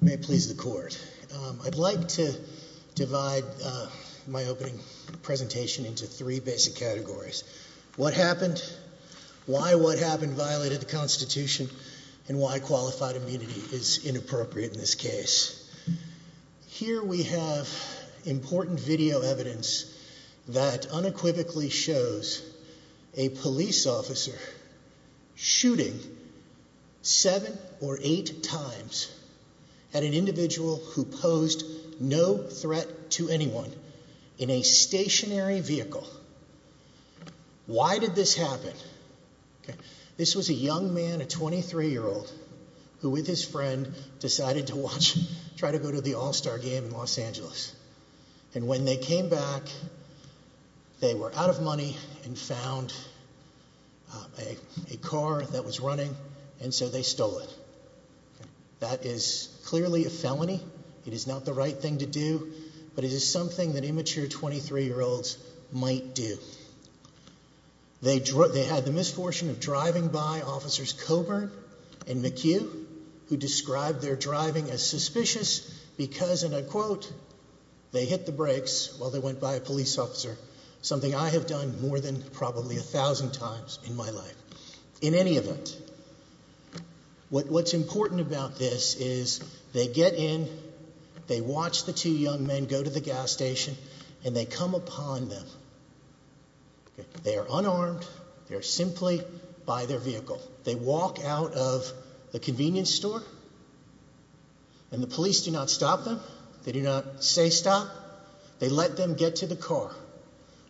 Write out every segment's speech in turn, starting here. May it please the court. I'd like to divide my opening presentation into three basic categories. What happened, why what happened violated the Constitution, and why qualified immunity is unequivocally shows a police officer shooting seven or eight times at an individual who posed no threat to anyone in a stationary vehicle. Why did this happen? This was a young man a 23 year old who with his friend decided to watch try to go to the all-star game in Los Angeles and when they came back they were out of money and found a car that was running and so they stole it. That is clearly a felony. It is not the right thing to do but it is something that immature 23 year olds might do. They had the misfortune of driving by officers Coburn and McHugh who described their driving as suspicious because and I quote they hit the brakes while they went by a police officer something I have done more than probably a thousand times in my life. In any event what's important about this is they get in they watch the two young men go to the gas station and they come upon them. They are unarmed, they're simply by their vehicle. They walk out of the convenience store and the police do not stop them. They do not say stop. They let them get to the car.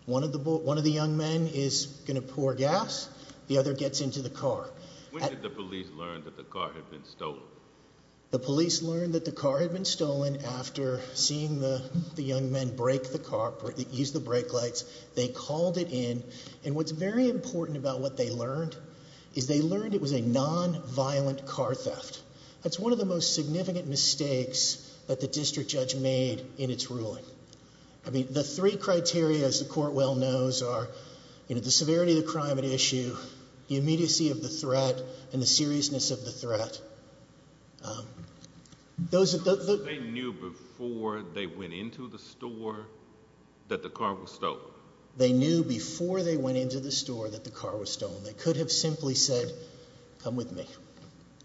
One of the young men is going to pour gas, the other gets into the car. When did the police learn that the car had been stolen? The police learned that the car had been stolen after seeing the young men break the car, use the brake lights. They called it in and what's very important is they learned it was a non-violent car theft. That's one of the most significant mistakes that the district judge made in its ruling. The three criteria as the court well knows are the severity of the crime at issue, the immediacy of the threat and the seriousness of the threat. They knew before they went into the store that the car was stolen? They knew before they went into the store that the car was stolen? They could have simply said come with me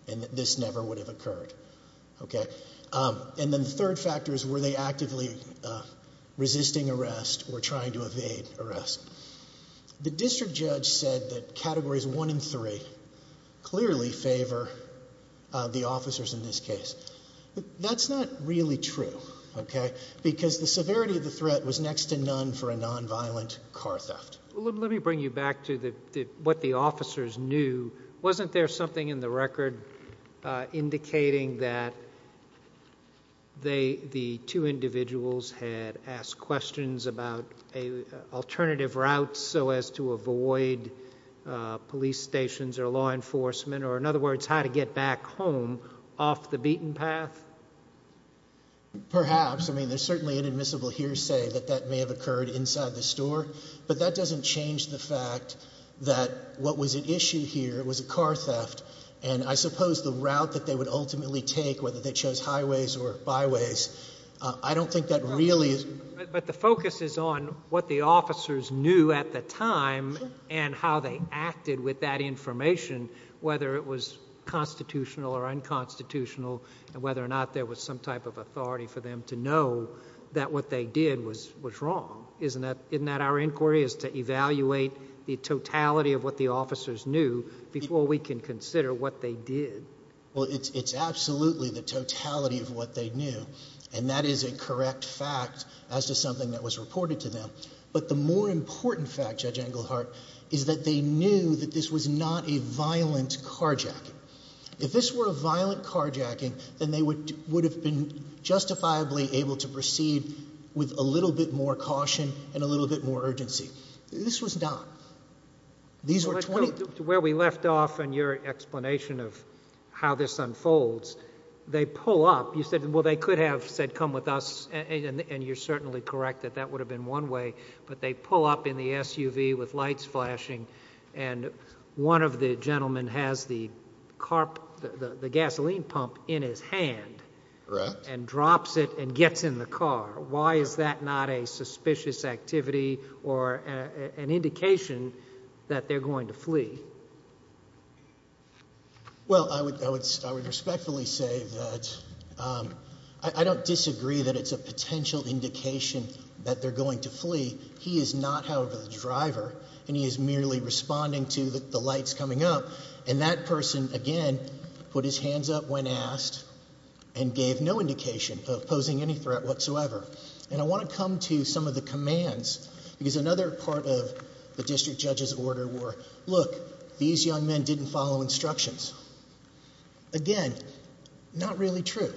and this never would have occurred. And then the third factor is were they actively resisting arrest or trying to evade arrest? The district judge said that categories one and three clearly favor the officers in this case. That's not really true because the severity of the threat was next to none for a non-violent car theft. Let me bring you back to what the officers knew. Wasn't there something in the record indicating that the two individuals had asked questions about an alternative route so as to avoid police stations or law enforcement? Or in other words, how to get back home off the beaten path? Perhaps. I mean, there's certainly an admissible hearsay that that may have occurred inside the store. But that doesn't change the fact that what was at issue here was a car theft. And I suppose the route that they would ultimately take, whether they chose highways or byways, I don't think that really is- But the focus is on what the officers knew at the time and how they acted with that information, whether it was constitutional or unconstitutional, and whether or not there was some type of authority for them to know that what they did was wrong. Isn't that our inquiry is to evaluate the totality of what the officers knew before we can consider what they did? Well, it's absolutely the totality of what they knew. And that is a correct fact as to something that was reported to them. But the more important fact, Judge Englehart, is that they knew that this was not a violent carjacking. If this were a violent carjacking, then they would have been justifiably able to proceed with a little bit more caution and a little bit more urgency. This was not. These were 20- To where we left off in your explanation of how this unfolds, they pull up. You said, well, they could have said, come with us. And you're certainly correct that that would have been one way. But they pull up in the SUV with lights flashing. And one of the gentlemen has the gasoline pump in his hand. Correct. And drops it and gets in the car. Why is that not a suspicious activity or an indication that they're going to flee? Well, I would respectfully say that I don't disagree that it's a potential indication that they're going to flee. He is not, however, the driver. And he is merely responding to the lights coming up. And that person, again, put his hands up when asked and gave no indication of posing any threat whatsoever. And I want to come to some of the commands. Because another part of the district judge's order were, look, these young men didn't follow instructions. Again, not really true.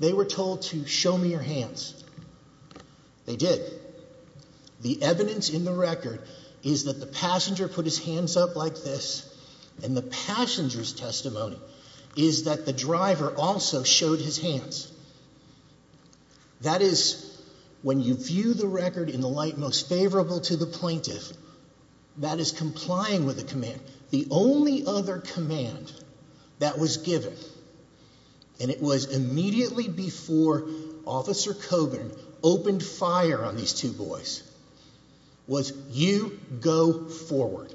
They were told to show me your hands. They did. The evidence in the record is that the passenger put his hands up like this. And the passenger's testimony is that the driver also showed his hands. That is, when you view the record in the light most favorable to the plaintiff, that is complying with the command. The only other command that was given, and it was immediately before Officer Coburn opened fire on these two boys, was you go forward.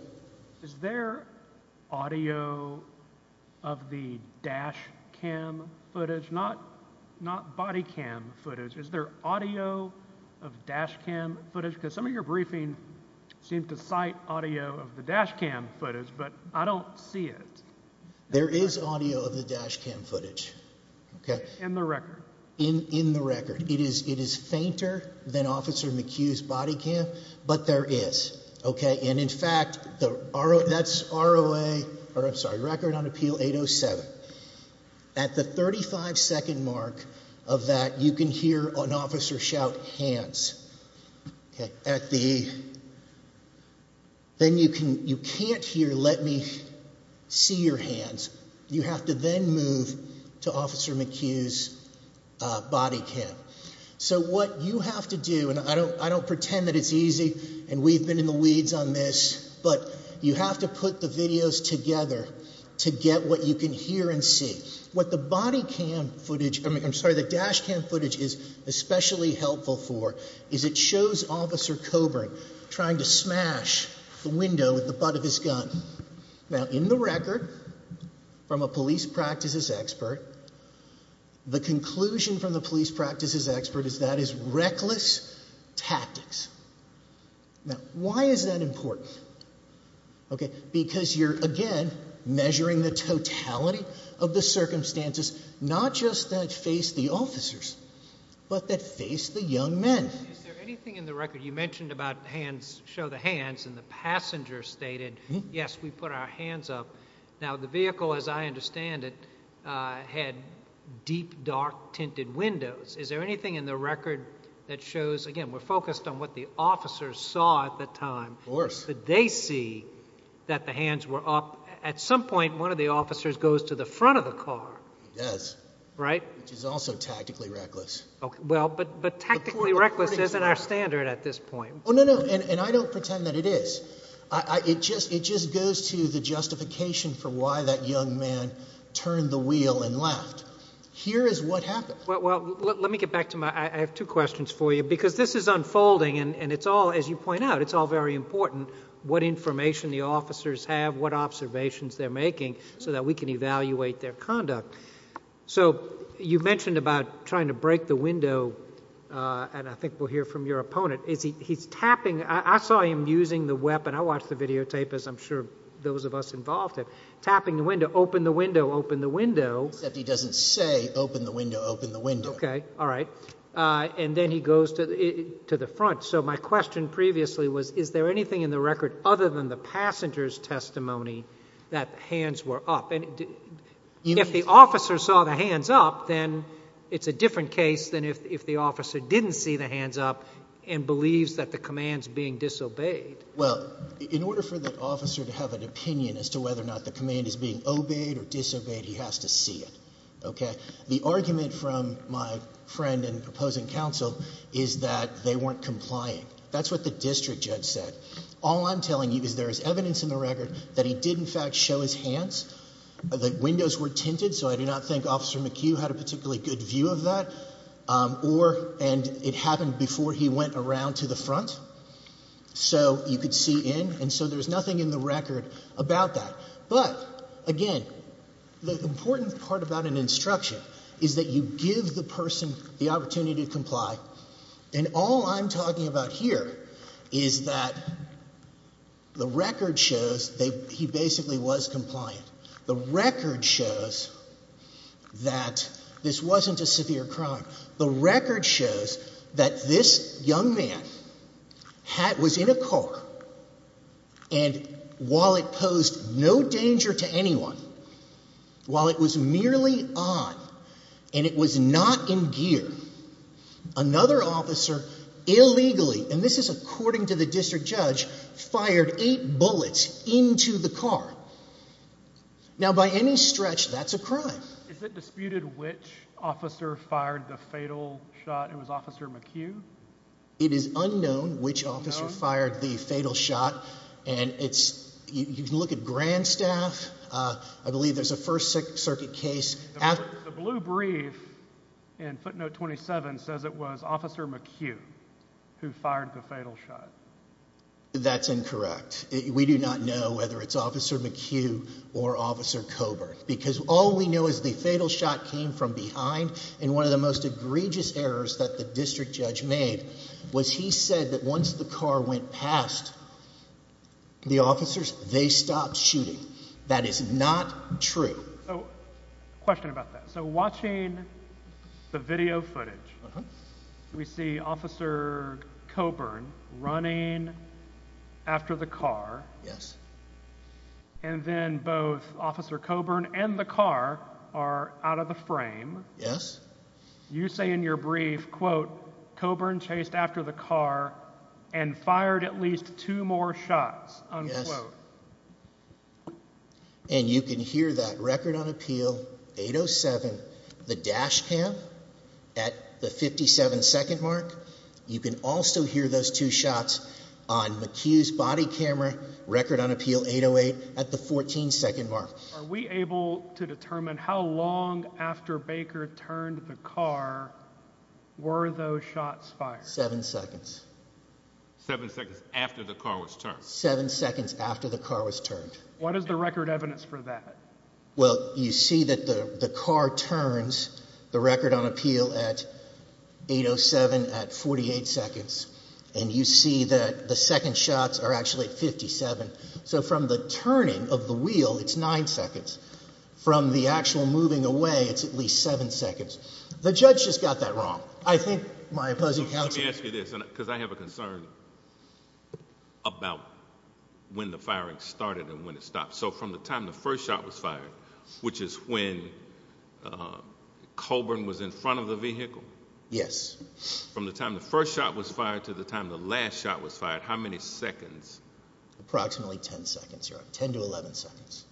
Is there audio of the dash cam footage? Not body cam footage. Is there audio of dash cam footage? Because some of your briefing seemed to cite audio of the dash cam footage. But I don't see it. There is audio of the dash cam footage. In the record? In the record. It is fainter than Officer McHugh's body cam. But there is. And in fact, that's R.O.A., or I'm sorry, Record on Appeal 807. At the 35 second mark of that, you can hear an officer shout, hands. Then you can't hear, let me see your hands. You have to then move to Officer McHugh's body cam. So what you have to do, and I don't pretend that it's easy, and we've been in the weeds on this, but you have to put the videos together to get what you can hear and see. What the dash cam footage is especially helpful for is it shows Officer Coburn trying to smash the window with the butt of his gun. Now, in the record, from a police practices expert, the conclusion from the police practices expert is that is reckless tactics. Now, why is that important? Because you're, again, measuring the totality of the circumstances, not just that face the officers, but that face the young men. Is there anything in the record, you mentioned about hands, show the hands, and the passenger stated, yes, we put our hands up. Now, the vehicle, as I understand it, had deep, dark, tinted windows. Is there anything in the record that shows, again, we're focused on what the officers saw at the time. Of course. Did they see that the hands were up? At some point, one of the officers goes to the front of the car. He does. Right? Which is also tactically reckless. Well, but tactically reckless isn't our standard at this point. Oh, no, no, and I don't pretend that it is. It just goes to the justification for why that young man turned the wheel and left. Here is what happened. Well, let me get back to my, I have two questions for you, because this is unfolding, and it's all, as you point out, it's all very important, what information the officers have, what observations they're making, so that we can evaluate their conduct. So you mentioned about trying to break the window, and I think we'll hear from your opponent. He's tapping. I saw him using the weapon. I watched the videotape, as I'm sure those of us involved have. Tapping the window. Open the window. Open the window. Except he doesn't say, open the window, open the window. Okay. All right. And then he goes to the front. So my question previously was, is there anything in the record, other than the passenger's testimony, that hands were up? If the officer saw the hands up, then it's a different case than if the officer didn't see the hands up and believes that the command's being disobeyed. Well, in order for the officer to have an opinion as to whether or not the command is being obeyed or disobeyed, he has to see it. Okay? The argument from my friend and opposing counsel is that they weren't complying. That's what the district judge said. All I'm telling you is there is evidence in the record that he did, in fact, show his hands. The windows were tinted, so I do not think Officer McHugh had a particularly good view of that. Or, and it happened before he went around to the front. So you could see in. And so there's nothing in the record about that. But, again, the important part about an instruction is that you give the person the opportunity to comply. And all I'm talking about here is that the record shows that he basically was compliant. The record shows that this wasn't a severe crime. The record shows that this young man was in a car, and while it posed no danger to anyone, while it was merely on, and it was not in gear, another officer illegally, and this is according to the district judge, fired eight bullets into the car. Now, by any stretch, that's a crime. Is it disputed which officer fired the fatal shot? It was Officer McHugh? It is unknown which officer fired the fatal shot. And you can look at Grand Staff. I believe there's a First Circuit case. The blue brief in footnote 27 says it was Officer McHugh who fired the fatal shot. That's incorrect. We do not know whether it's Officer McHugh or Officer Coburn. Because all we know is the fatal shot came from behind, and one of the most egregious errors that the district judge made was he said that once the car went past the officers, they stopped shooting. That is not true. So, question about that. So, watching the video footage, we see Officer Coburn running after the car. Yes. And then both Officer Coburn and the car are out of the frame. Yes. You say in your brief, quote, Coburn chased after the car and fired at least two more shots, unquote. Yes. And you can hear that. Record on appeal, 8.07, the dash cam at the 57 second mark. You can also hear those two shots on McHugh's body camera, record on appeal, 8.08, at the 14 second mark. Are we able to determine how long after Baker turned the car were those shots fired? Seven seconds. Seven seconds after the car was turned? Seven seconds after the car was turned. What is the record evidence for that? Well, you see that the car turns the record on appeal at 8.07 at 48 seconds. And you see that the second shots are actually at 57. So from the turning of the wheel, it's nine seconds. From the actual moving away, it's at least seven seconds. The judge just got that wrong. I think my opposing counsel... Let me ask you this, because I have a concern about when the firing started and when it stopped. So from the time the first shot was fired, which is when Coburn was in front of the vehicle? Yes. From the time the first shot was fired to the time the last shot was fired, how many seconds? Approximately 10 seconds. 10 to 11 seconds.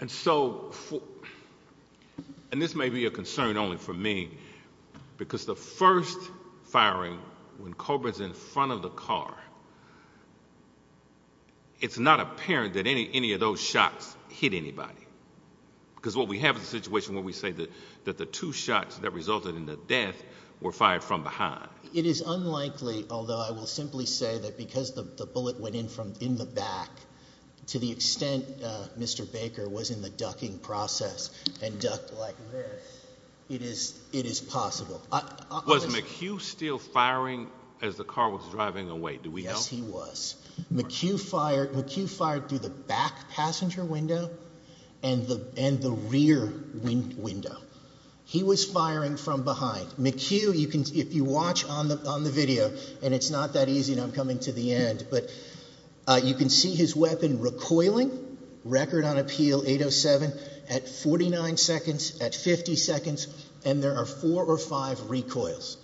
And so, and this may be a concern only for me, because the first firing, when Coburn's in front of the car, it's not apparent that any of those shots hit anybody. Because what we have is a situation where we say that the two shots that resulted in the death were fired from behind. It is unlikely, although I will simply say that because the bullet went in from in the back, to the extent Mr. Baker was in the ducking process and ducked like this, it is possible. Was McHugh still firing as the car was driving away? Do we know? Yes, he was. McHugh fired through the back passenger window and the rear window. He was firing from behind. McHugh, if you watch on the video, and it's not that easy and I'm coming to the end, but you can see his weapon recoiling, record on appeal, 807, at 49 seconds, at 50 seconds, and there are four or five recoils.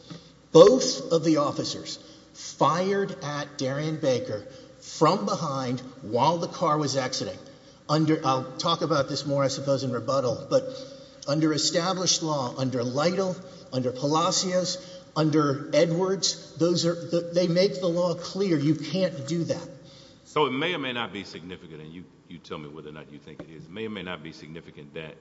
Both of the officers fired at Darian Baker from behind while the car was exiting. I'll talk about this more, I suppose, in rebuttal. Under established law, under Lytle, under Palacios, under Edwards, they make the law clear you can't do that. It may or may not be significant, and you tell me whether or not you think it is. It may or may not be significant that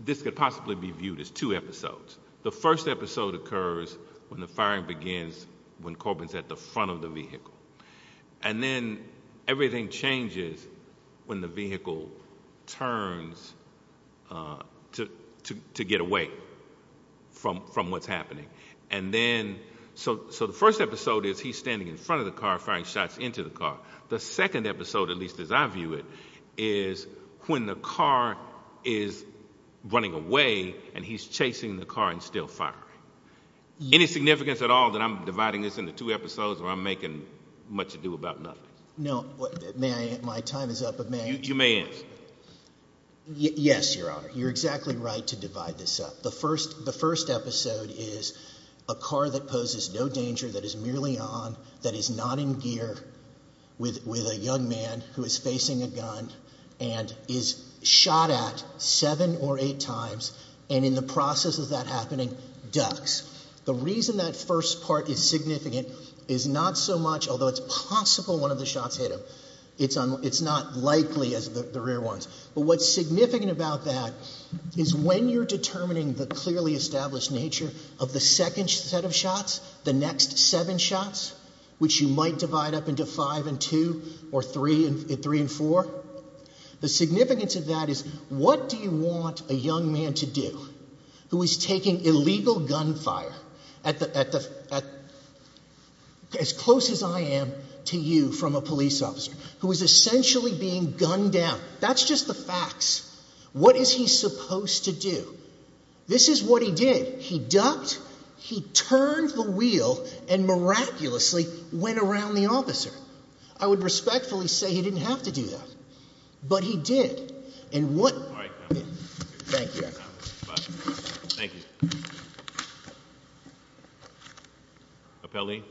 this could possibly be viewed as two episodes. The first episode occurs when the firing begins when Corbin's at the front of the vehicle. Then everything changes when the vehicle turns to get away from what's happening. The first episode is he's standing in front of the car firing shots into the car. The second episode, at least as I view it, is when the car is running away and he's chasing the car and still firing. Any significance at all that I'm dividing this into two episodes or I'm making much ado about nothing? No. My time is up. You may answer. Yes, Your Honor. You're exactly right to divide this up. The first episode is a car that poses no danger, that is merely on, that is not in gear with a young man who is facing a gun and is shot at seven or eight times and in the process of that happening ducks. The reason that first part is significant is not so much, although it's possible one of the shots hit him, it's not likely as the rear ones. But what's significant about that is when you're determining the clearly established nature of the second set of shots, the next seven shots, which you might divide up into five and two or three and four, the significance of that is what do you want a young man to do who is taking illegal gunfire as close as I am to you from a police officer who is essentially being gunned down. That's just the facts. What is he supposed to do? This is what he did. He ducked. He turned the wheel and miraculously went around the officer. I would respectfully say he didn't have to do that. But he did. Thank you, Your Honor. Thank you. Appellee.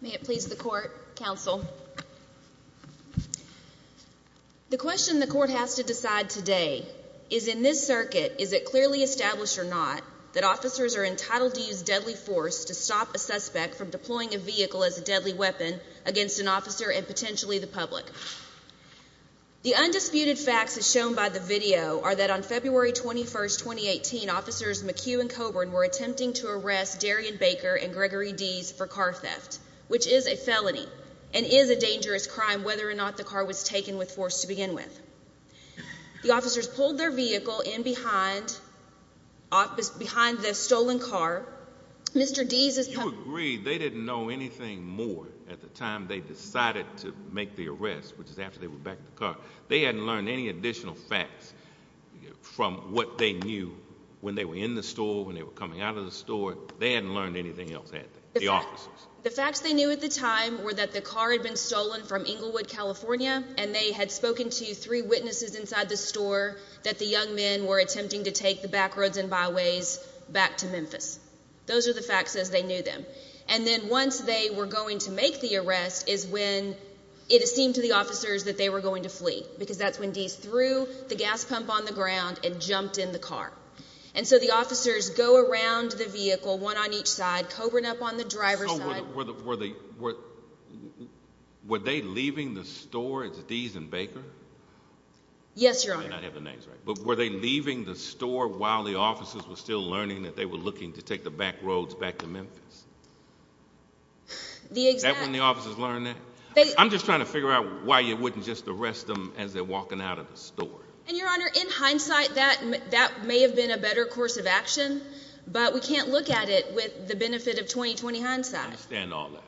May it please the Court, Counsel. The question the Court has to decide today is in this circuit, is it clearly established or not that officers are entitled to use deadly force to stop a suspect from deploying a vehicle as a deadly weapon against an officer and potentially the public? The undisputed facts as shown by the video are that on February 21, 2018, officers McHugh and Coburn were attempting to arrest Darion Baker and Gregory Deese for car theft, which is a felony and is a dangerous crime, whether or not the car was taken with force to begin with. The officers pulled their vehicle in behind the stolen car. Mr. Deese is- You agree they didn't know anything more at the time they decided to make the arrest, which is after they were backed in the car. They hadn't learned any additional facts from what they knew when they were in the store, when they were coming out of the store. They hadn't learned anything else, had they, the officers? The facts they knew at the time were that the car had been stolen from Inglewood, California, and they had spoken to three witnesses inside the store that the young men were attempting to take the back roads and byways back to Memphis. Those are the facts as they knew them. And then once they were going to make the arrest is when it seemed to the officers that they were going to flee, because that's when Deese threw the gas pump on the ground and jumped in the car. And so the officers go around the vehicle, one on each side, covering up on the driver's side. So were they leaving the store as Deese and Baker? Yes, Your Honor. I may not have the names right, but were they leaving the store while the officers were still learning that they were looking to take the back roads back to Memphis? The exact- Is that when the officers learned that? I'm just trying to figure out why you wouldn't just arrest them as they're walking out of the store. And Your Honor, in hindsight, that may have been a better course of action, but we can't look at it with the benefit of 20-20 hindsight. I understand all that.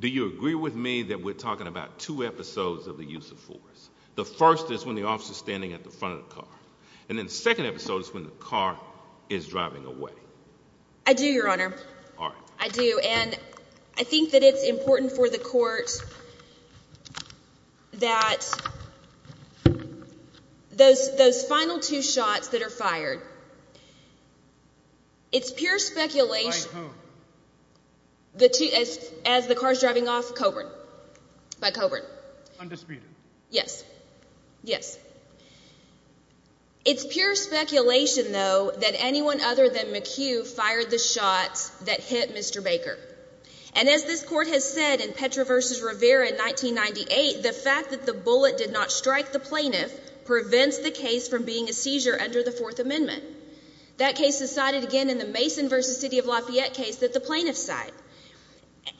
Do you agree with me that we're talking about two episodes of the use of force? The first is when the officer's standing at the front of the car. And then the second episode is when the car is driving away. I do, Your Honor. All right. I do. And I think that it's important for the court that those final two shots that are fired, it's pure speculation- By whom? As the car's driving off, Coburn. By Coburn. Undisputed. Yes. Yes. It's pure speculation, though, that anyone other than McHugh fired the shots that hit Mr. Baker. And as this court has said in Petra v. Rivera in 1998, the fact that the bullet did not strike the plaintiff prevents the case from being a seizure under the Fourth Amendment. That case is cited again in the Mason v. City of Lafayette case that the plaintiffs cite.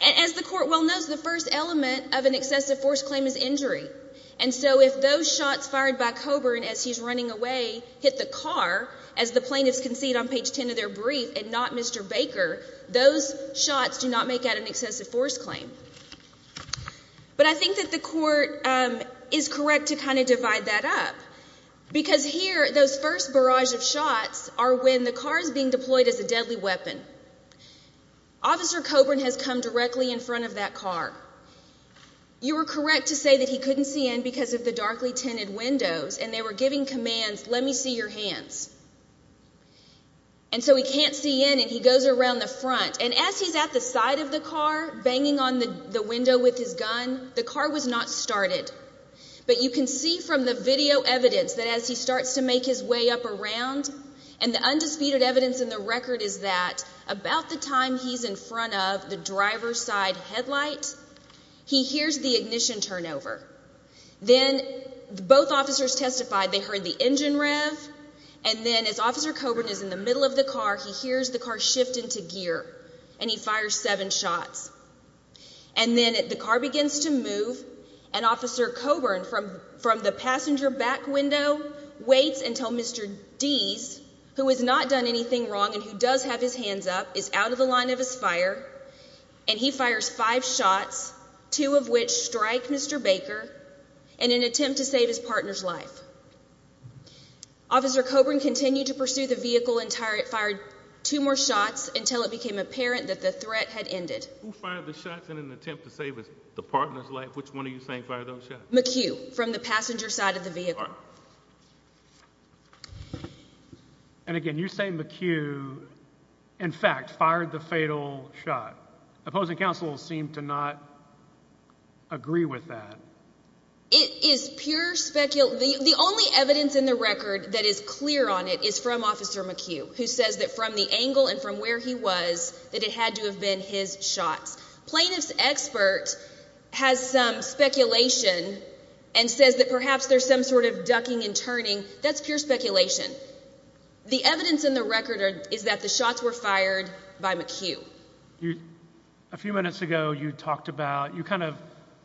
As the court well knows, the first element of an excessive force claim is injury. And so if those shots fired by Coburn as he's running away hit the car, as the plaintiffs concede on page 10 of their brief, and not Mr. Baker, those shots do not make that an excessive force claim. But I think that the court is correct to kind of divide that up because here those first barrage of shots are when the car is being deployed as a deadly weapon. Officer Coburn has come directly in front of that car. You were correct to say that he couldn't see in because of the darkly tinted windows and they were giving commands, let me see your hands. And so he can't see in and he goes around the front. And as he's at the side of the car, banging on the window with his gun, the car was not started. But you can see from the video evidence that as he starts to make his way up around and the undisputed evidence in the record is that about the time he's in front of the driver's side headlight, he hears the ignition turn over. Then both officers testified they heard the engine rev and then as Officer Coburn is in the middle of the car, he hears the car shift into gear and he fires seven shots. And then the car begins to move and Officer Coburn from the passenger back window waits until Mr. Deese, who has not done anything wrong and who does have his hands up, is out of the line of his fire and he fires five shots, two of which strike Mr. Baker in an attempt to save his partner's life. Officer Coburn continued to pursue the vehicle and fired two more shots until it became apparent that the threat had ended. Who fired the shots in an attempt to save the partner's life? Which one are you saying fired those shots? McHugh, from the passenger side of the vehicle. And again, you're saying McHugh, in fact, fired the fatal shot. Opposing counsel seem to not agree with that. It is pure speculation. The only evidence in the record that is clear on it is from Officer McHugh, who says that from the angle and from where he was that it had to have been his shots. Plaintiff's expert has some speculation and says that perhaps there's some sort of ducking and turning. That's pure speculation. The evidence in the record is that the shots were fired by McHugh. A few minutes ago you talked about, you kind of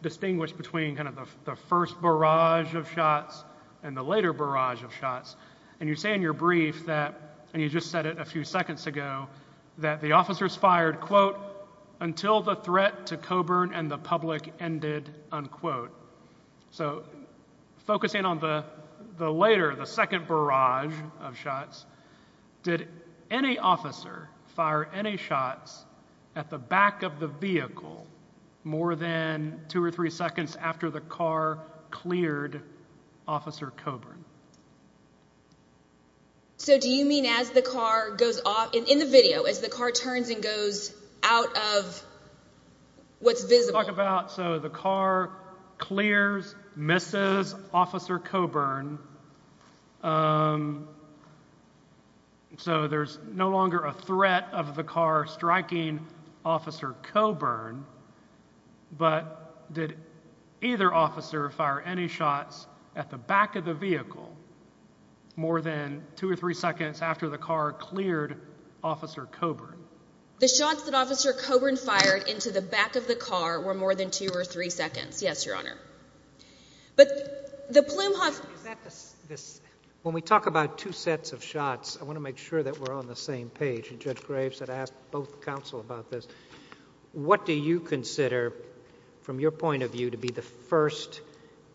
distinguished between kind of the first barrage of shots and the later barrage of shots and you say in your brief that, and you just said it a few seconds ago, that the officers fired, quote, until the threat to Coburn and the public ended, unquote. So focusing on the later, the second barrage of shots, did any officer fire any shots at the back of the vehicle more than two or three seconds after the car cleared Officer Coburn? So do you mean as the car goes off, in the video, as the car turns and goes out of what's visible? Talk about, so the car clears, misses Officer Coburn, so there's no longer a threat of the car striking Officer Coburn, but did either officer fire any shots at the back of the vehicle more than two or three seconds after the car cleared Officer Coburn? The shots that Officer Coburn fired into the back of the car were more than two or three seconds. Yes, Your Honor. But the plume... Is that the... When we talk about two sets of shots, I want to make sure that we're on the same page and Judge Graves had asked both counsel about this. What do you consider, from your point of view, to be the first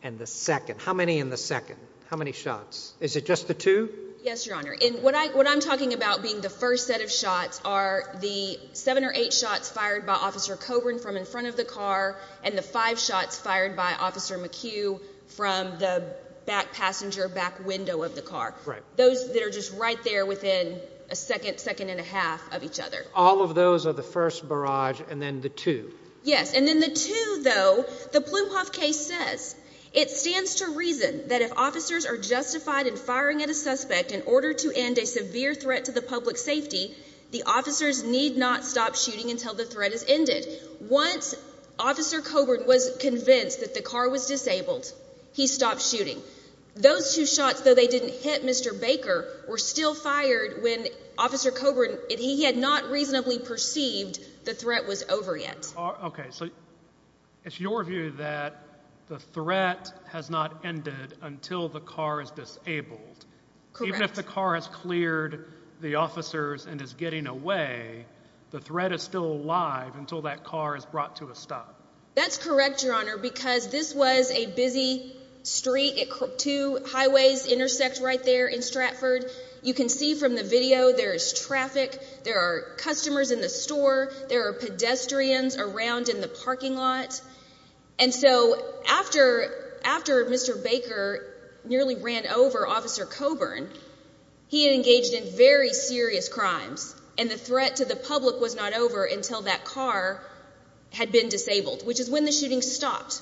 and the second? How many in the second? How many shots? Is it just the two? Yes, Your Honor. And what I'm talking about being the first set of shots are the seven or eight shots fired by Officer Coburn from in front of the car and the five shots fired by Officer McHugh from the back passenger, back window of the car. Right. Those that are just right there within a second, second and a half of each other. All of those are the first barrage and then the two. Yes, and then the two, though, the Blumhoff case says, it stands to reason that if officers are justified in firing at a suspect in order to end a severe threat to the public safety, the officers need not stop shooting until the threat has ended. Once Officer Coburn was convinced that the car was disabled, he stopped shooting. Those two shots, though they didn't hit Mr. Baker, were still fired when Officer Coburn, he had not reasonably perceived the threat was over yet. Okay, so it's your view that the threat has not ended until the car is disabled. Correct. Even if the car has cleared the officers and is getting away, the threat is still alive until that car is brought to a stop. That's correct, Your Honor, because this was a busy street. Two highways intersect right there in Stratford. You can see from the video there is traffic, there are customers in the store, there are pedestrians around in the parking lot. And so after Mr. Baker nearly ran over Officer Coburn, he engaged in very serious crimes and the threat to the public was not over until that car had been disabled, which is when the shooting stopped.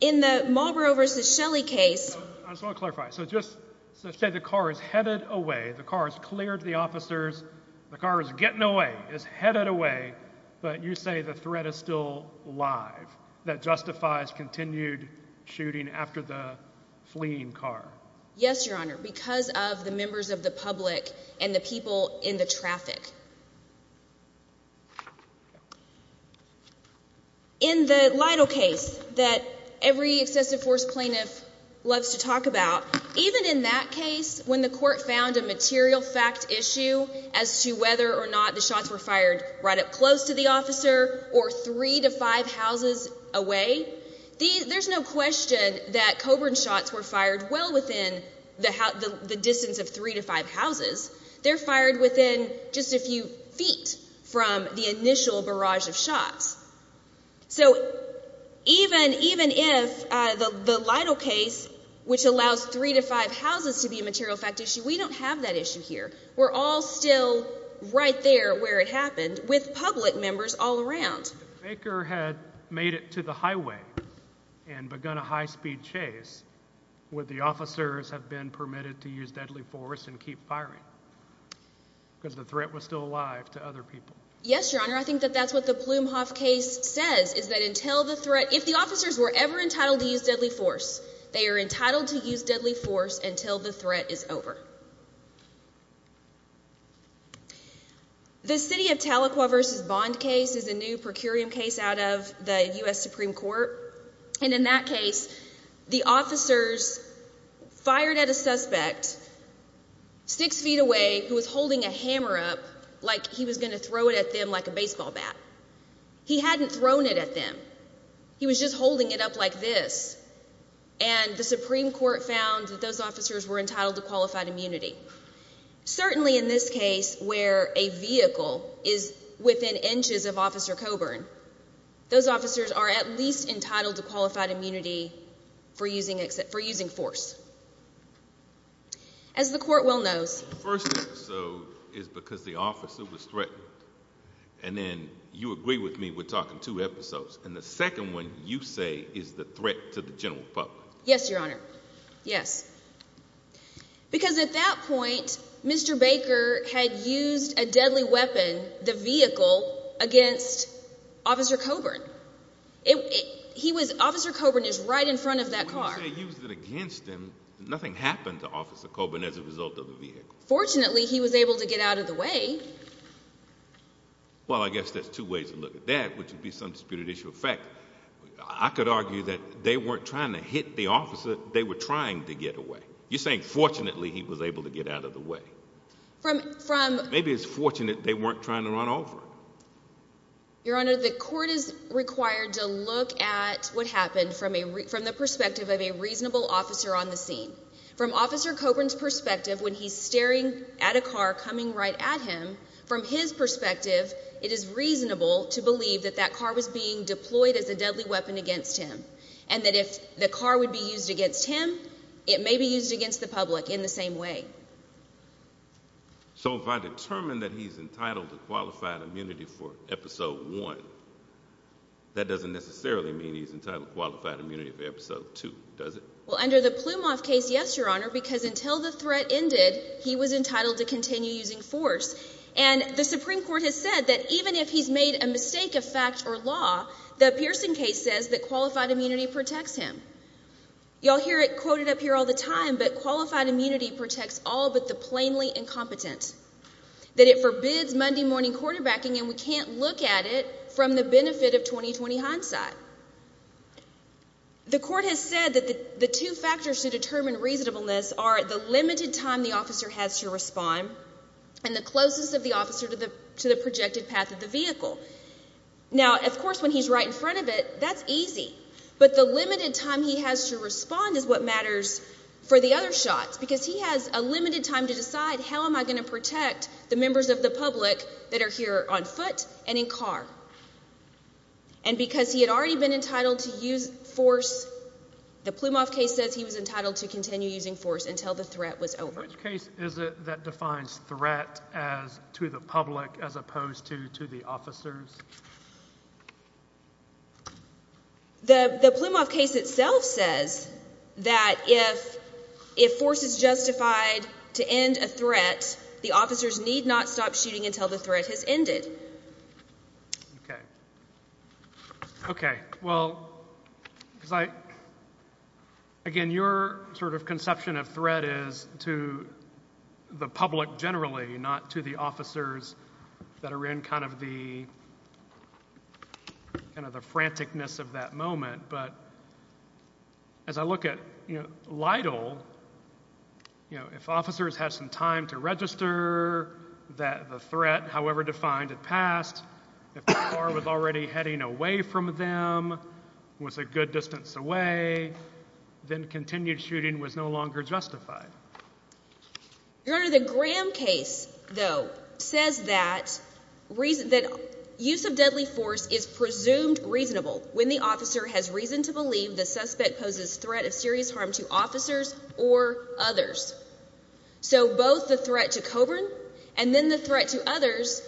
In the Marlboro v. Shelley case... I just want to clarify. So just say the car is headed away, the car has cleared the officers, the car is getting away, the car is headed away, but you say the threat is still alive. That justifies continued shooting after the fleeing car. Yes, Your Honor, because of the members of the public and the people in the traffic. In the Lytle case that every excessive force plaintiff loves to talk about, even in that case, when the court found a material fact issue as to whether or not the shots were fired right up close to the officer or three to five houses away, there's no question that Coburn shots were fired well within the distance of three to five houses. They're fired within just a few feet from the initial barrage of shots. So even if the Lytle case, which allows three to five houses to be a material fact issue, because we don't have that issue here, we're all still right there where it happened with public members all around. If Baker had made it to the highway and begun a high-speed chase, would the officers have been permitted to use deadly force and keep firing? Because the threat was still alive to other people. Yes, Your Honor, I think that's what the Blumhof case says, is that until the threat if the officers were ever entitled to use deadly force, they are entitled to use deadly force until the threat is over. The City of Tahlequah v. Bond case is a new per curiam case out of the U.S. Supreme Court and in that case the officers fired at a suspect six feet away who was holding a hammer up like he was going to throw it at them like a baseball bat. He hadn't thrown it at them. He was just holding it up like this. And the Supreme Court found that those officers were entitled to qualified immunity. Certainly in this case where a vehicle is within inches of Officer Coburn those officers are at least entitled to qualified immunity for using force. As the court well knows The first episode is because the officer was threatened and then you agree with me we're talking two episodes and the second one you say is the threat to the general public. Yes your honor. Because at that point Mr. Baker had used a deadly weapon the vehicle against Officer Coburn. Officer Coburn is right in front of that car. Nothing happened to Officer Coburn as a result of the vehicle. Fortunately he was able to get out of the way. Well I guess there's two ways to look at that. I could argue that they weren't trying to hit the officer they were trying to get away. You're saying fortunately he was able to get out of the way. Maybe it's fortunate they weren't trying to run over him. Your honor the court is required to look at what happened from the perspective of a reasonable officer on the scene. From Officer Coburn's perspective when he's staring at a car coming right at him from his perspective it is reasonable to believe that that car was being deployed as a deadly weapon against him and that if the car would be used against him it may be used against the public in the same way. So if I determine that he's entitled to qualified immunity for episode one that doesn't necessarily mean he's entitled to qualified immunity for episode two does it? Well under the Plumoff case yes your honor because until the threat ended he was entitled to continue using force and the Supreme Court has said that even if he's made a mistake of fact or law the Pearson case says that qualified immunity protects him. Y'all hear it quoted up here all the time but qualified immunity protects all but the plainly incompetent. That it forbids Monday morning quarterbacking and we can't look at it from the benefit of 20-20 hindsight. The court has said that the two factors to determine reasonableness are the limited time the officer has to respond and the closest of the officer to the projected path of the vehicle. Now of course when he's right in front of it that's easy but the limited time he has to respond is what matters for the other shots because he has a limited time to decide how am I going to protect the members of the public that are here on foot and in car and because he had already been entitled to use force the Plumoff case says he was entitled to continue using force until the threat was over. Which case is it that defines threat as to the public as opposed to to the officers? The Plumoff case itself says that if if force is justified to end a threat the officers need not stop shooting until the threat has ended. Okay. Okay well because I again your sort of conception of threat is to the public generally not to the officers that are in kind of the kind of the franticness of that moment but as I look at LIDL if officers have some time to register that the threat however defined had passed if the car was already heading away from them was a good distance away then continued shooting was no longer justified. Your honor the Graham case though says that reason that use of deadly force is presumed reasonable when the officer has reason to believe the suspect poses threat of serious harm to officers or others. So both the threat to Coburn and then the threat to others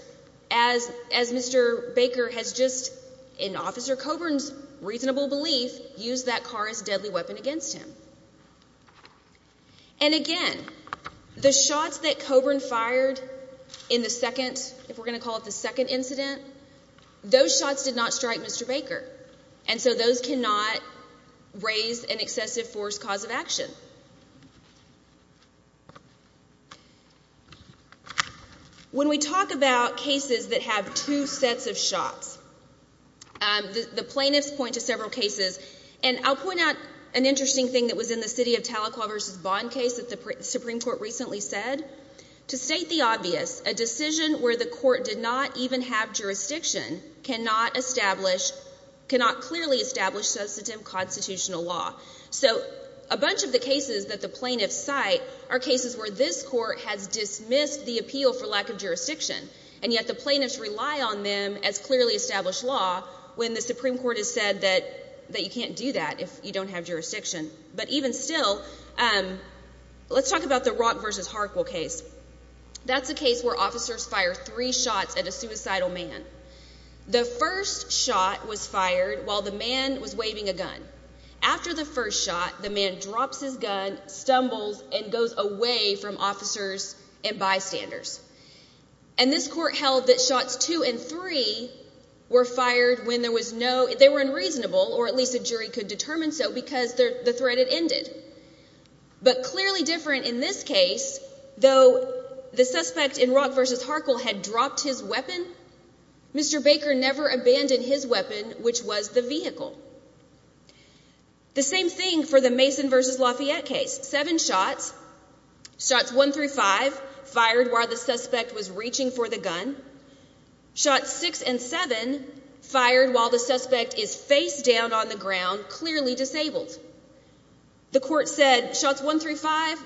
as as Mr. Baker has just in Officer Coburn's reasonable belief used that car as deadly weapon against him. And again the shots that Coburn fired in the second if we're going to call it the second incident those shots did not strike Mr. Baker and so those cannot raise an excessive force cause of action. When we talk about cases that have two sets of shots the plaintiffs point to several cases and I'll point out an interesting thing that was in the City of Tahlequah v. Bond case that the Supreme Court recently said to state the obvious a decision where the court did not even have jurisdiction cannot establish cannot clearly establish substantive constitutional law. So a bunch of the cases that the plaintiffs cite are cases where this court has dismissed the appeal for lack of jurisdiction and yet the plaintiffs rely on them as clearly established law when the Supreme Court has said that you can't do that if you don't have jurisdiction. But even still let's talk about the Rock v. Harkwell case. That's a case where officers fire three shots at a suicidal man. The first shot was fired while the man was waving a gun. After the first shot the man drops his gun stumbles and goes away from officers and bystanders. And this court held that shots two and three were fired when there was no they were unreasonable or at least a jury could determine so because the threat had ended. But clearly different in this case though the suspect in Rock v. Harkwell had dropped his weapon Mr. Baker never abandoned his weapon which was the vehicle. The same thing for the Mason v. Lafayette case seven shots shots one through five fired while the suspect was reaching for the gun shots six and seven fired while the suspect is face down on the ground clearly disabled. The court said shots one through five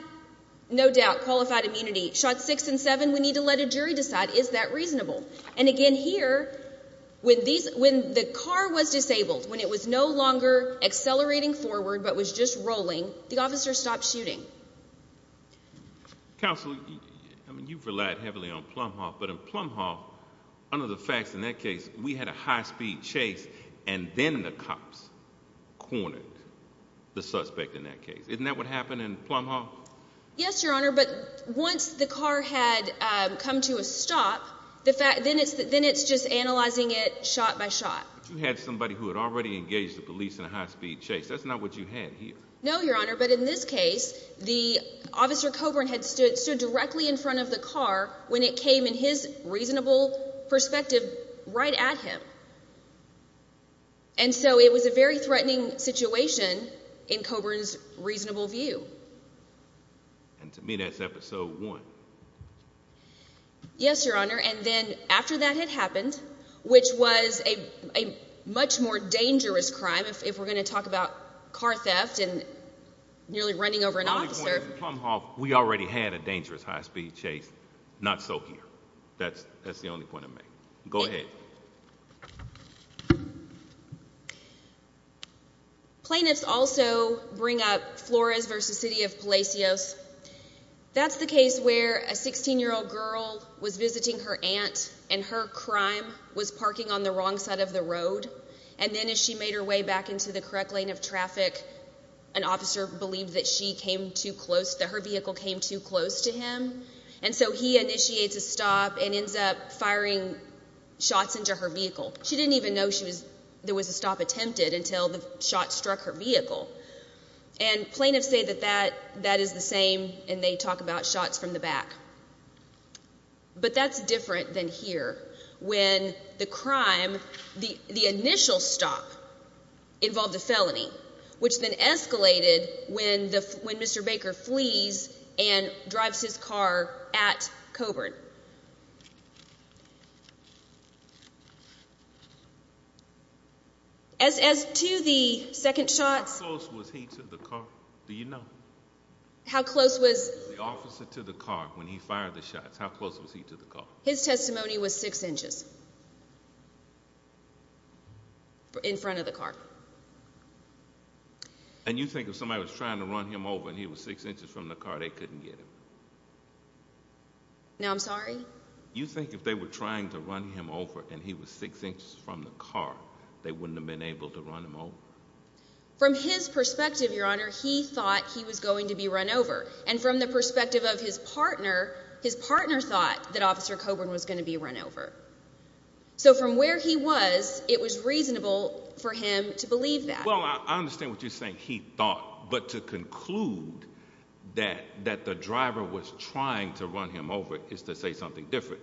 no doubt qualified immunity shots six and seven we need to let a jury decide is that reasonable? And again here when the car was disabled when it was no longer accelerating forward but was just rolling the officer stopped shooting. Counsel you've relied heavily on Plum Hall but in Plum Hall under the facts in that case we had a high speed chase and then the cops cornered the suspect in that case. Isn't that what happened in Plum Hall? Yes your honor but once the car had come to a stop then it's just analyzing it shot by shot. You had somebody who had already engaged the police in a high speed chase that's not what you had here. No your honor but in this case the officer Coburn had stood directly in front of the car when it came in his reasonable perspective right at him and so it was a very threatening situation in Coburn's reasonable view. And to me that's episode one. Yes your honor and then after that had happened which was a much more dangerous crime if we're going to talk about car theft and nearly running over an officer Plum Hall we already had a dangerous high speed chase not so here. That's the only point I make. Go ahead. Plaintiffs also bring up Flores versus City of Palacios That's the case where a 16 year old girl was visiting her aunt and her crime was parking on the wrong side of the road and then as she made her way back into the correct lane of traffic an officer believed that she came too close, that her vehicle came too close to him and so he initiates a stop and ends up firing shots into her vehicle. She didn't even know there was a stop attempted until the shot struck her vehicle and plaintiffs say that that is the same and they talk about shots from the back but that's different than here when the crime the initial stop involved a felony which then escalated when Mr. Baker flees and drives his car at Coburn As to the second shots How close was he to the car? Do you know? How close was The officer to the car when he fired the shots How close was he to the car? His testimony was 6 inches In front of the car And you think if somebody was trying to run him over and he was 6 inches from the car they couldn't get him Now I'm sorry You think if they were trying to run him over and he was 6 inches from the car they wouldn't have been able to run him over From his perspective your honor he thought he was going to be run over and from the perspective of his partner, his partner thought that officer Coburn was going to be run over So from where he was it was reasonable for him to believe that Well I understand what you're saying he thought but to conclude that that the driver was trying to run him over is to say something different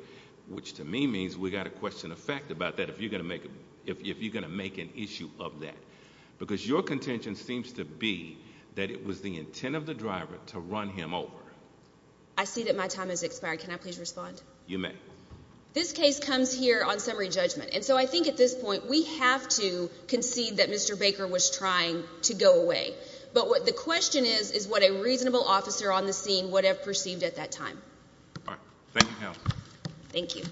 which to me means we got a question of fact about that if you're going to make an issue of that because your contention seems to be that it was the intent of the driver to run him over I see that my time has expired can I please respond You may This case comes here on summary judgment and so I think at this point we have to concede that Mr. Baker was trying to go away but what the question is is what a reasonable officer on the scene would have perceived at that time Thank you ma'am Thank you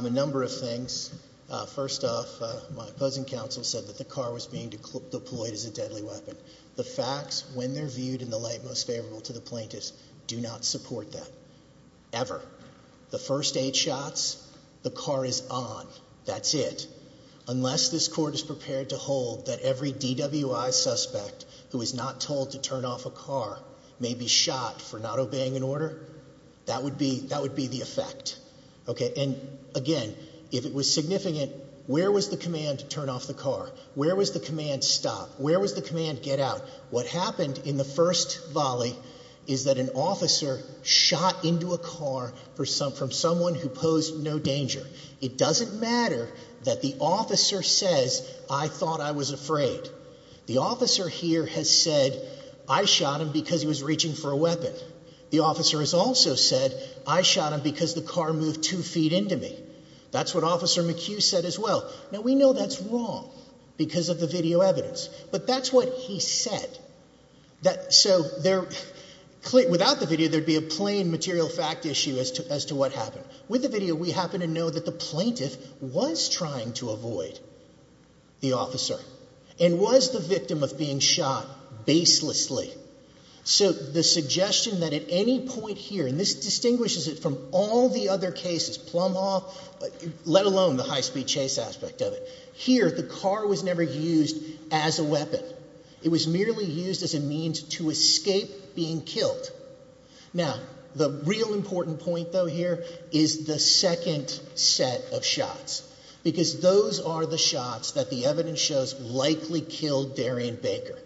A number of things First off my opposing counsel said that the car was being deployed as a deadly weapon. The facts when they're viewed in the light most favorable to the plaintiffs do not support that ever. The first eight shots the car is on that's it unless this court is prepared to hold that every DWI suspect who is not told to turn off a car may be shot for not obeying an order that would be the effect again if it was significant where was the command to turn off the car where was the command stop where was the command get out what happened in the first volley is that an officer shot into a car from someone who posed no danger it doesn't matter that the officer says I thought I was afraid. The officer here has said I shot him because he was reaching for a weapon the officer has also said I shot him because the car moved two feet into me. That's what officer McHugh said as well. Now we know that's wrong because of the video evidence but that's what he said so without the video there would be a plain material fact issue as to what happened. With the video we happen to know that the plaintiff was trying to avoid the officer and was the victim of being shot baselessly so the suggestion that at any point here and this distinguishes it from all the other cases Plum Hall let alone the high speed chase aspect of it here the car was never used as a weapon. It was merely used as a means to escape being killed. Now the real important point though here is the second set of shots because those are the shots that the evidence shows likely killed Darian Baker.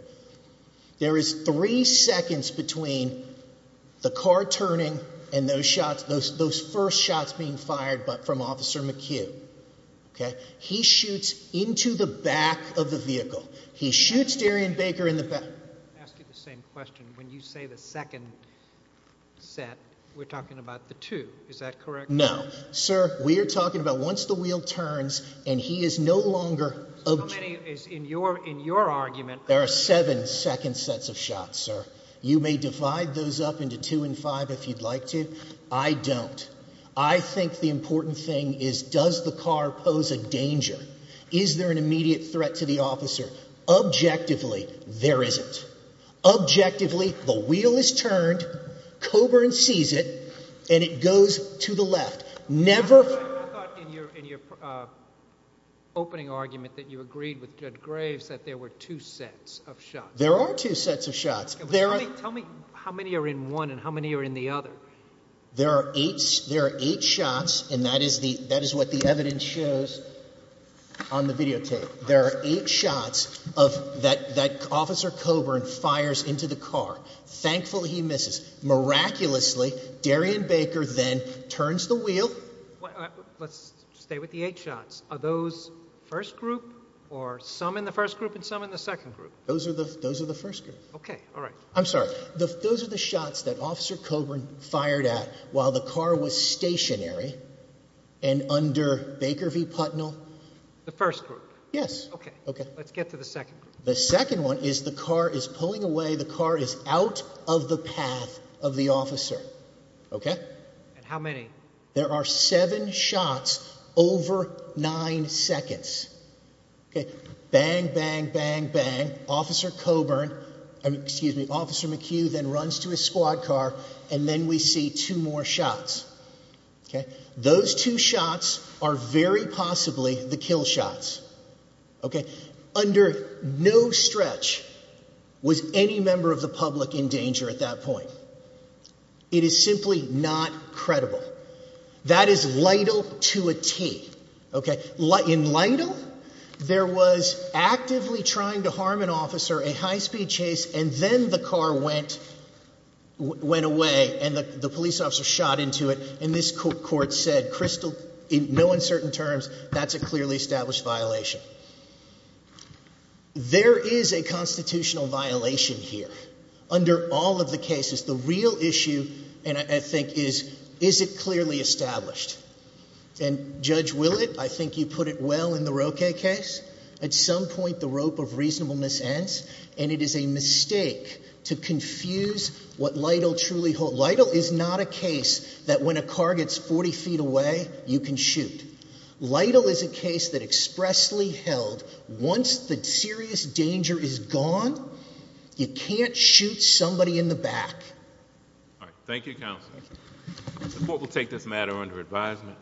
There is three seconds between the car turning and those first shots being fired from officer McHugh he shoots into the back of the vehicle he shoots Darian Baker in the back I'll ask you the same question when you say the second set we're talking about the two is that correct? No sir we're talking about once the wheel turns and he is no longer in your argument there are seven second sets of shots sir. You may divide those up into two and five if you'd like to I don't. I think the important thing is does the is there an immediate threat to the officer objectively there isn't objectively the wheel is turned Coburn sees it and it goes to the left I thought in your opening argument that you agreed with Judge Graves that there were two sets of shots. There are two sets of shots tell me how many are in one and how many are in the other there are eight shots and that is what the evidence shows on the video tape there are eight shots that officer Coburn fires into the car thankful he misses. Miraculously Darian Baker then turns the wheel let's stay with the eight shots are those first group or some in the first group and some in the second group those are the first group I'm sorry those are the shots that officer Coburn fired at while the car was stationary and under Baker v. Putnell the first group let's get to the second group the car is pulling away the car is out of the path of the officer there are seven shots over nine seconds bang bang bang bang officer Coburn officer McHugh then runs to his squad car and then we see two more shots those two shots are very possibly the kill shots under no stretch was any member of the public in danger at that point it is simply not credible that is Lytle to a T in Lytle there was actively trying to harm an officer a high speed chase and then the car went went away and the police officer shot into it and this court said crystal in no uncertain terms that's a clearly established violation there is a constitutional violation here under all of the cases the real issue and I think is is it clearly established and judge will it I think you put it well in the Roque case at some point the rope of reasonableness ends and it is a mistake to confuse what Lytle truly hold Lytle is not a case that when a car gets forty feet away you can shoot Lytle is a case that expressly held once the serious danger is gone you can't shoot somebody in the back thank you counsel the court will take this matter under advisement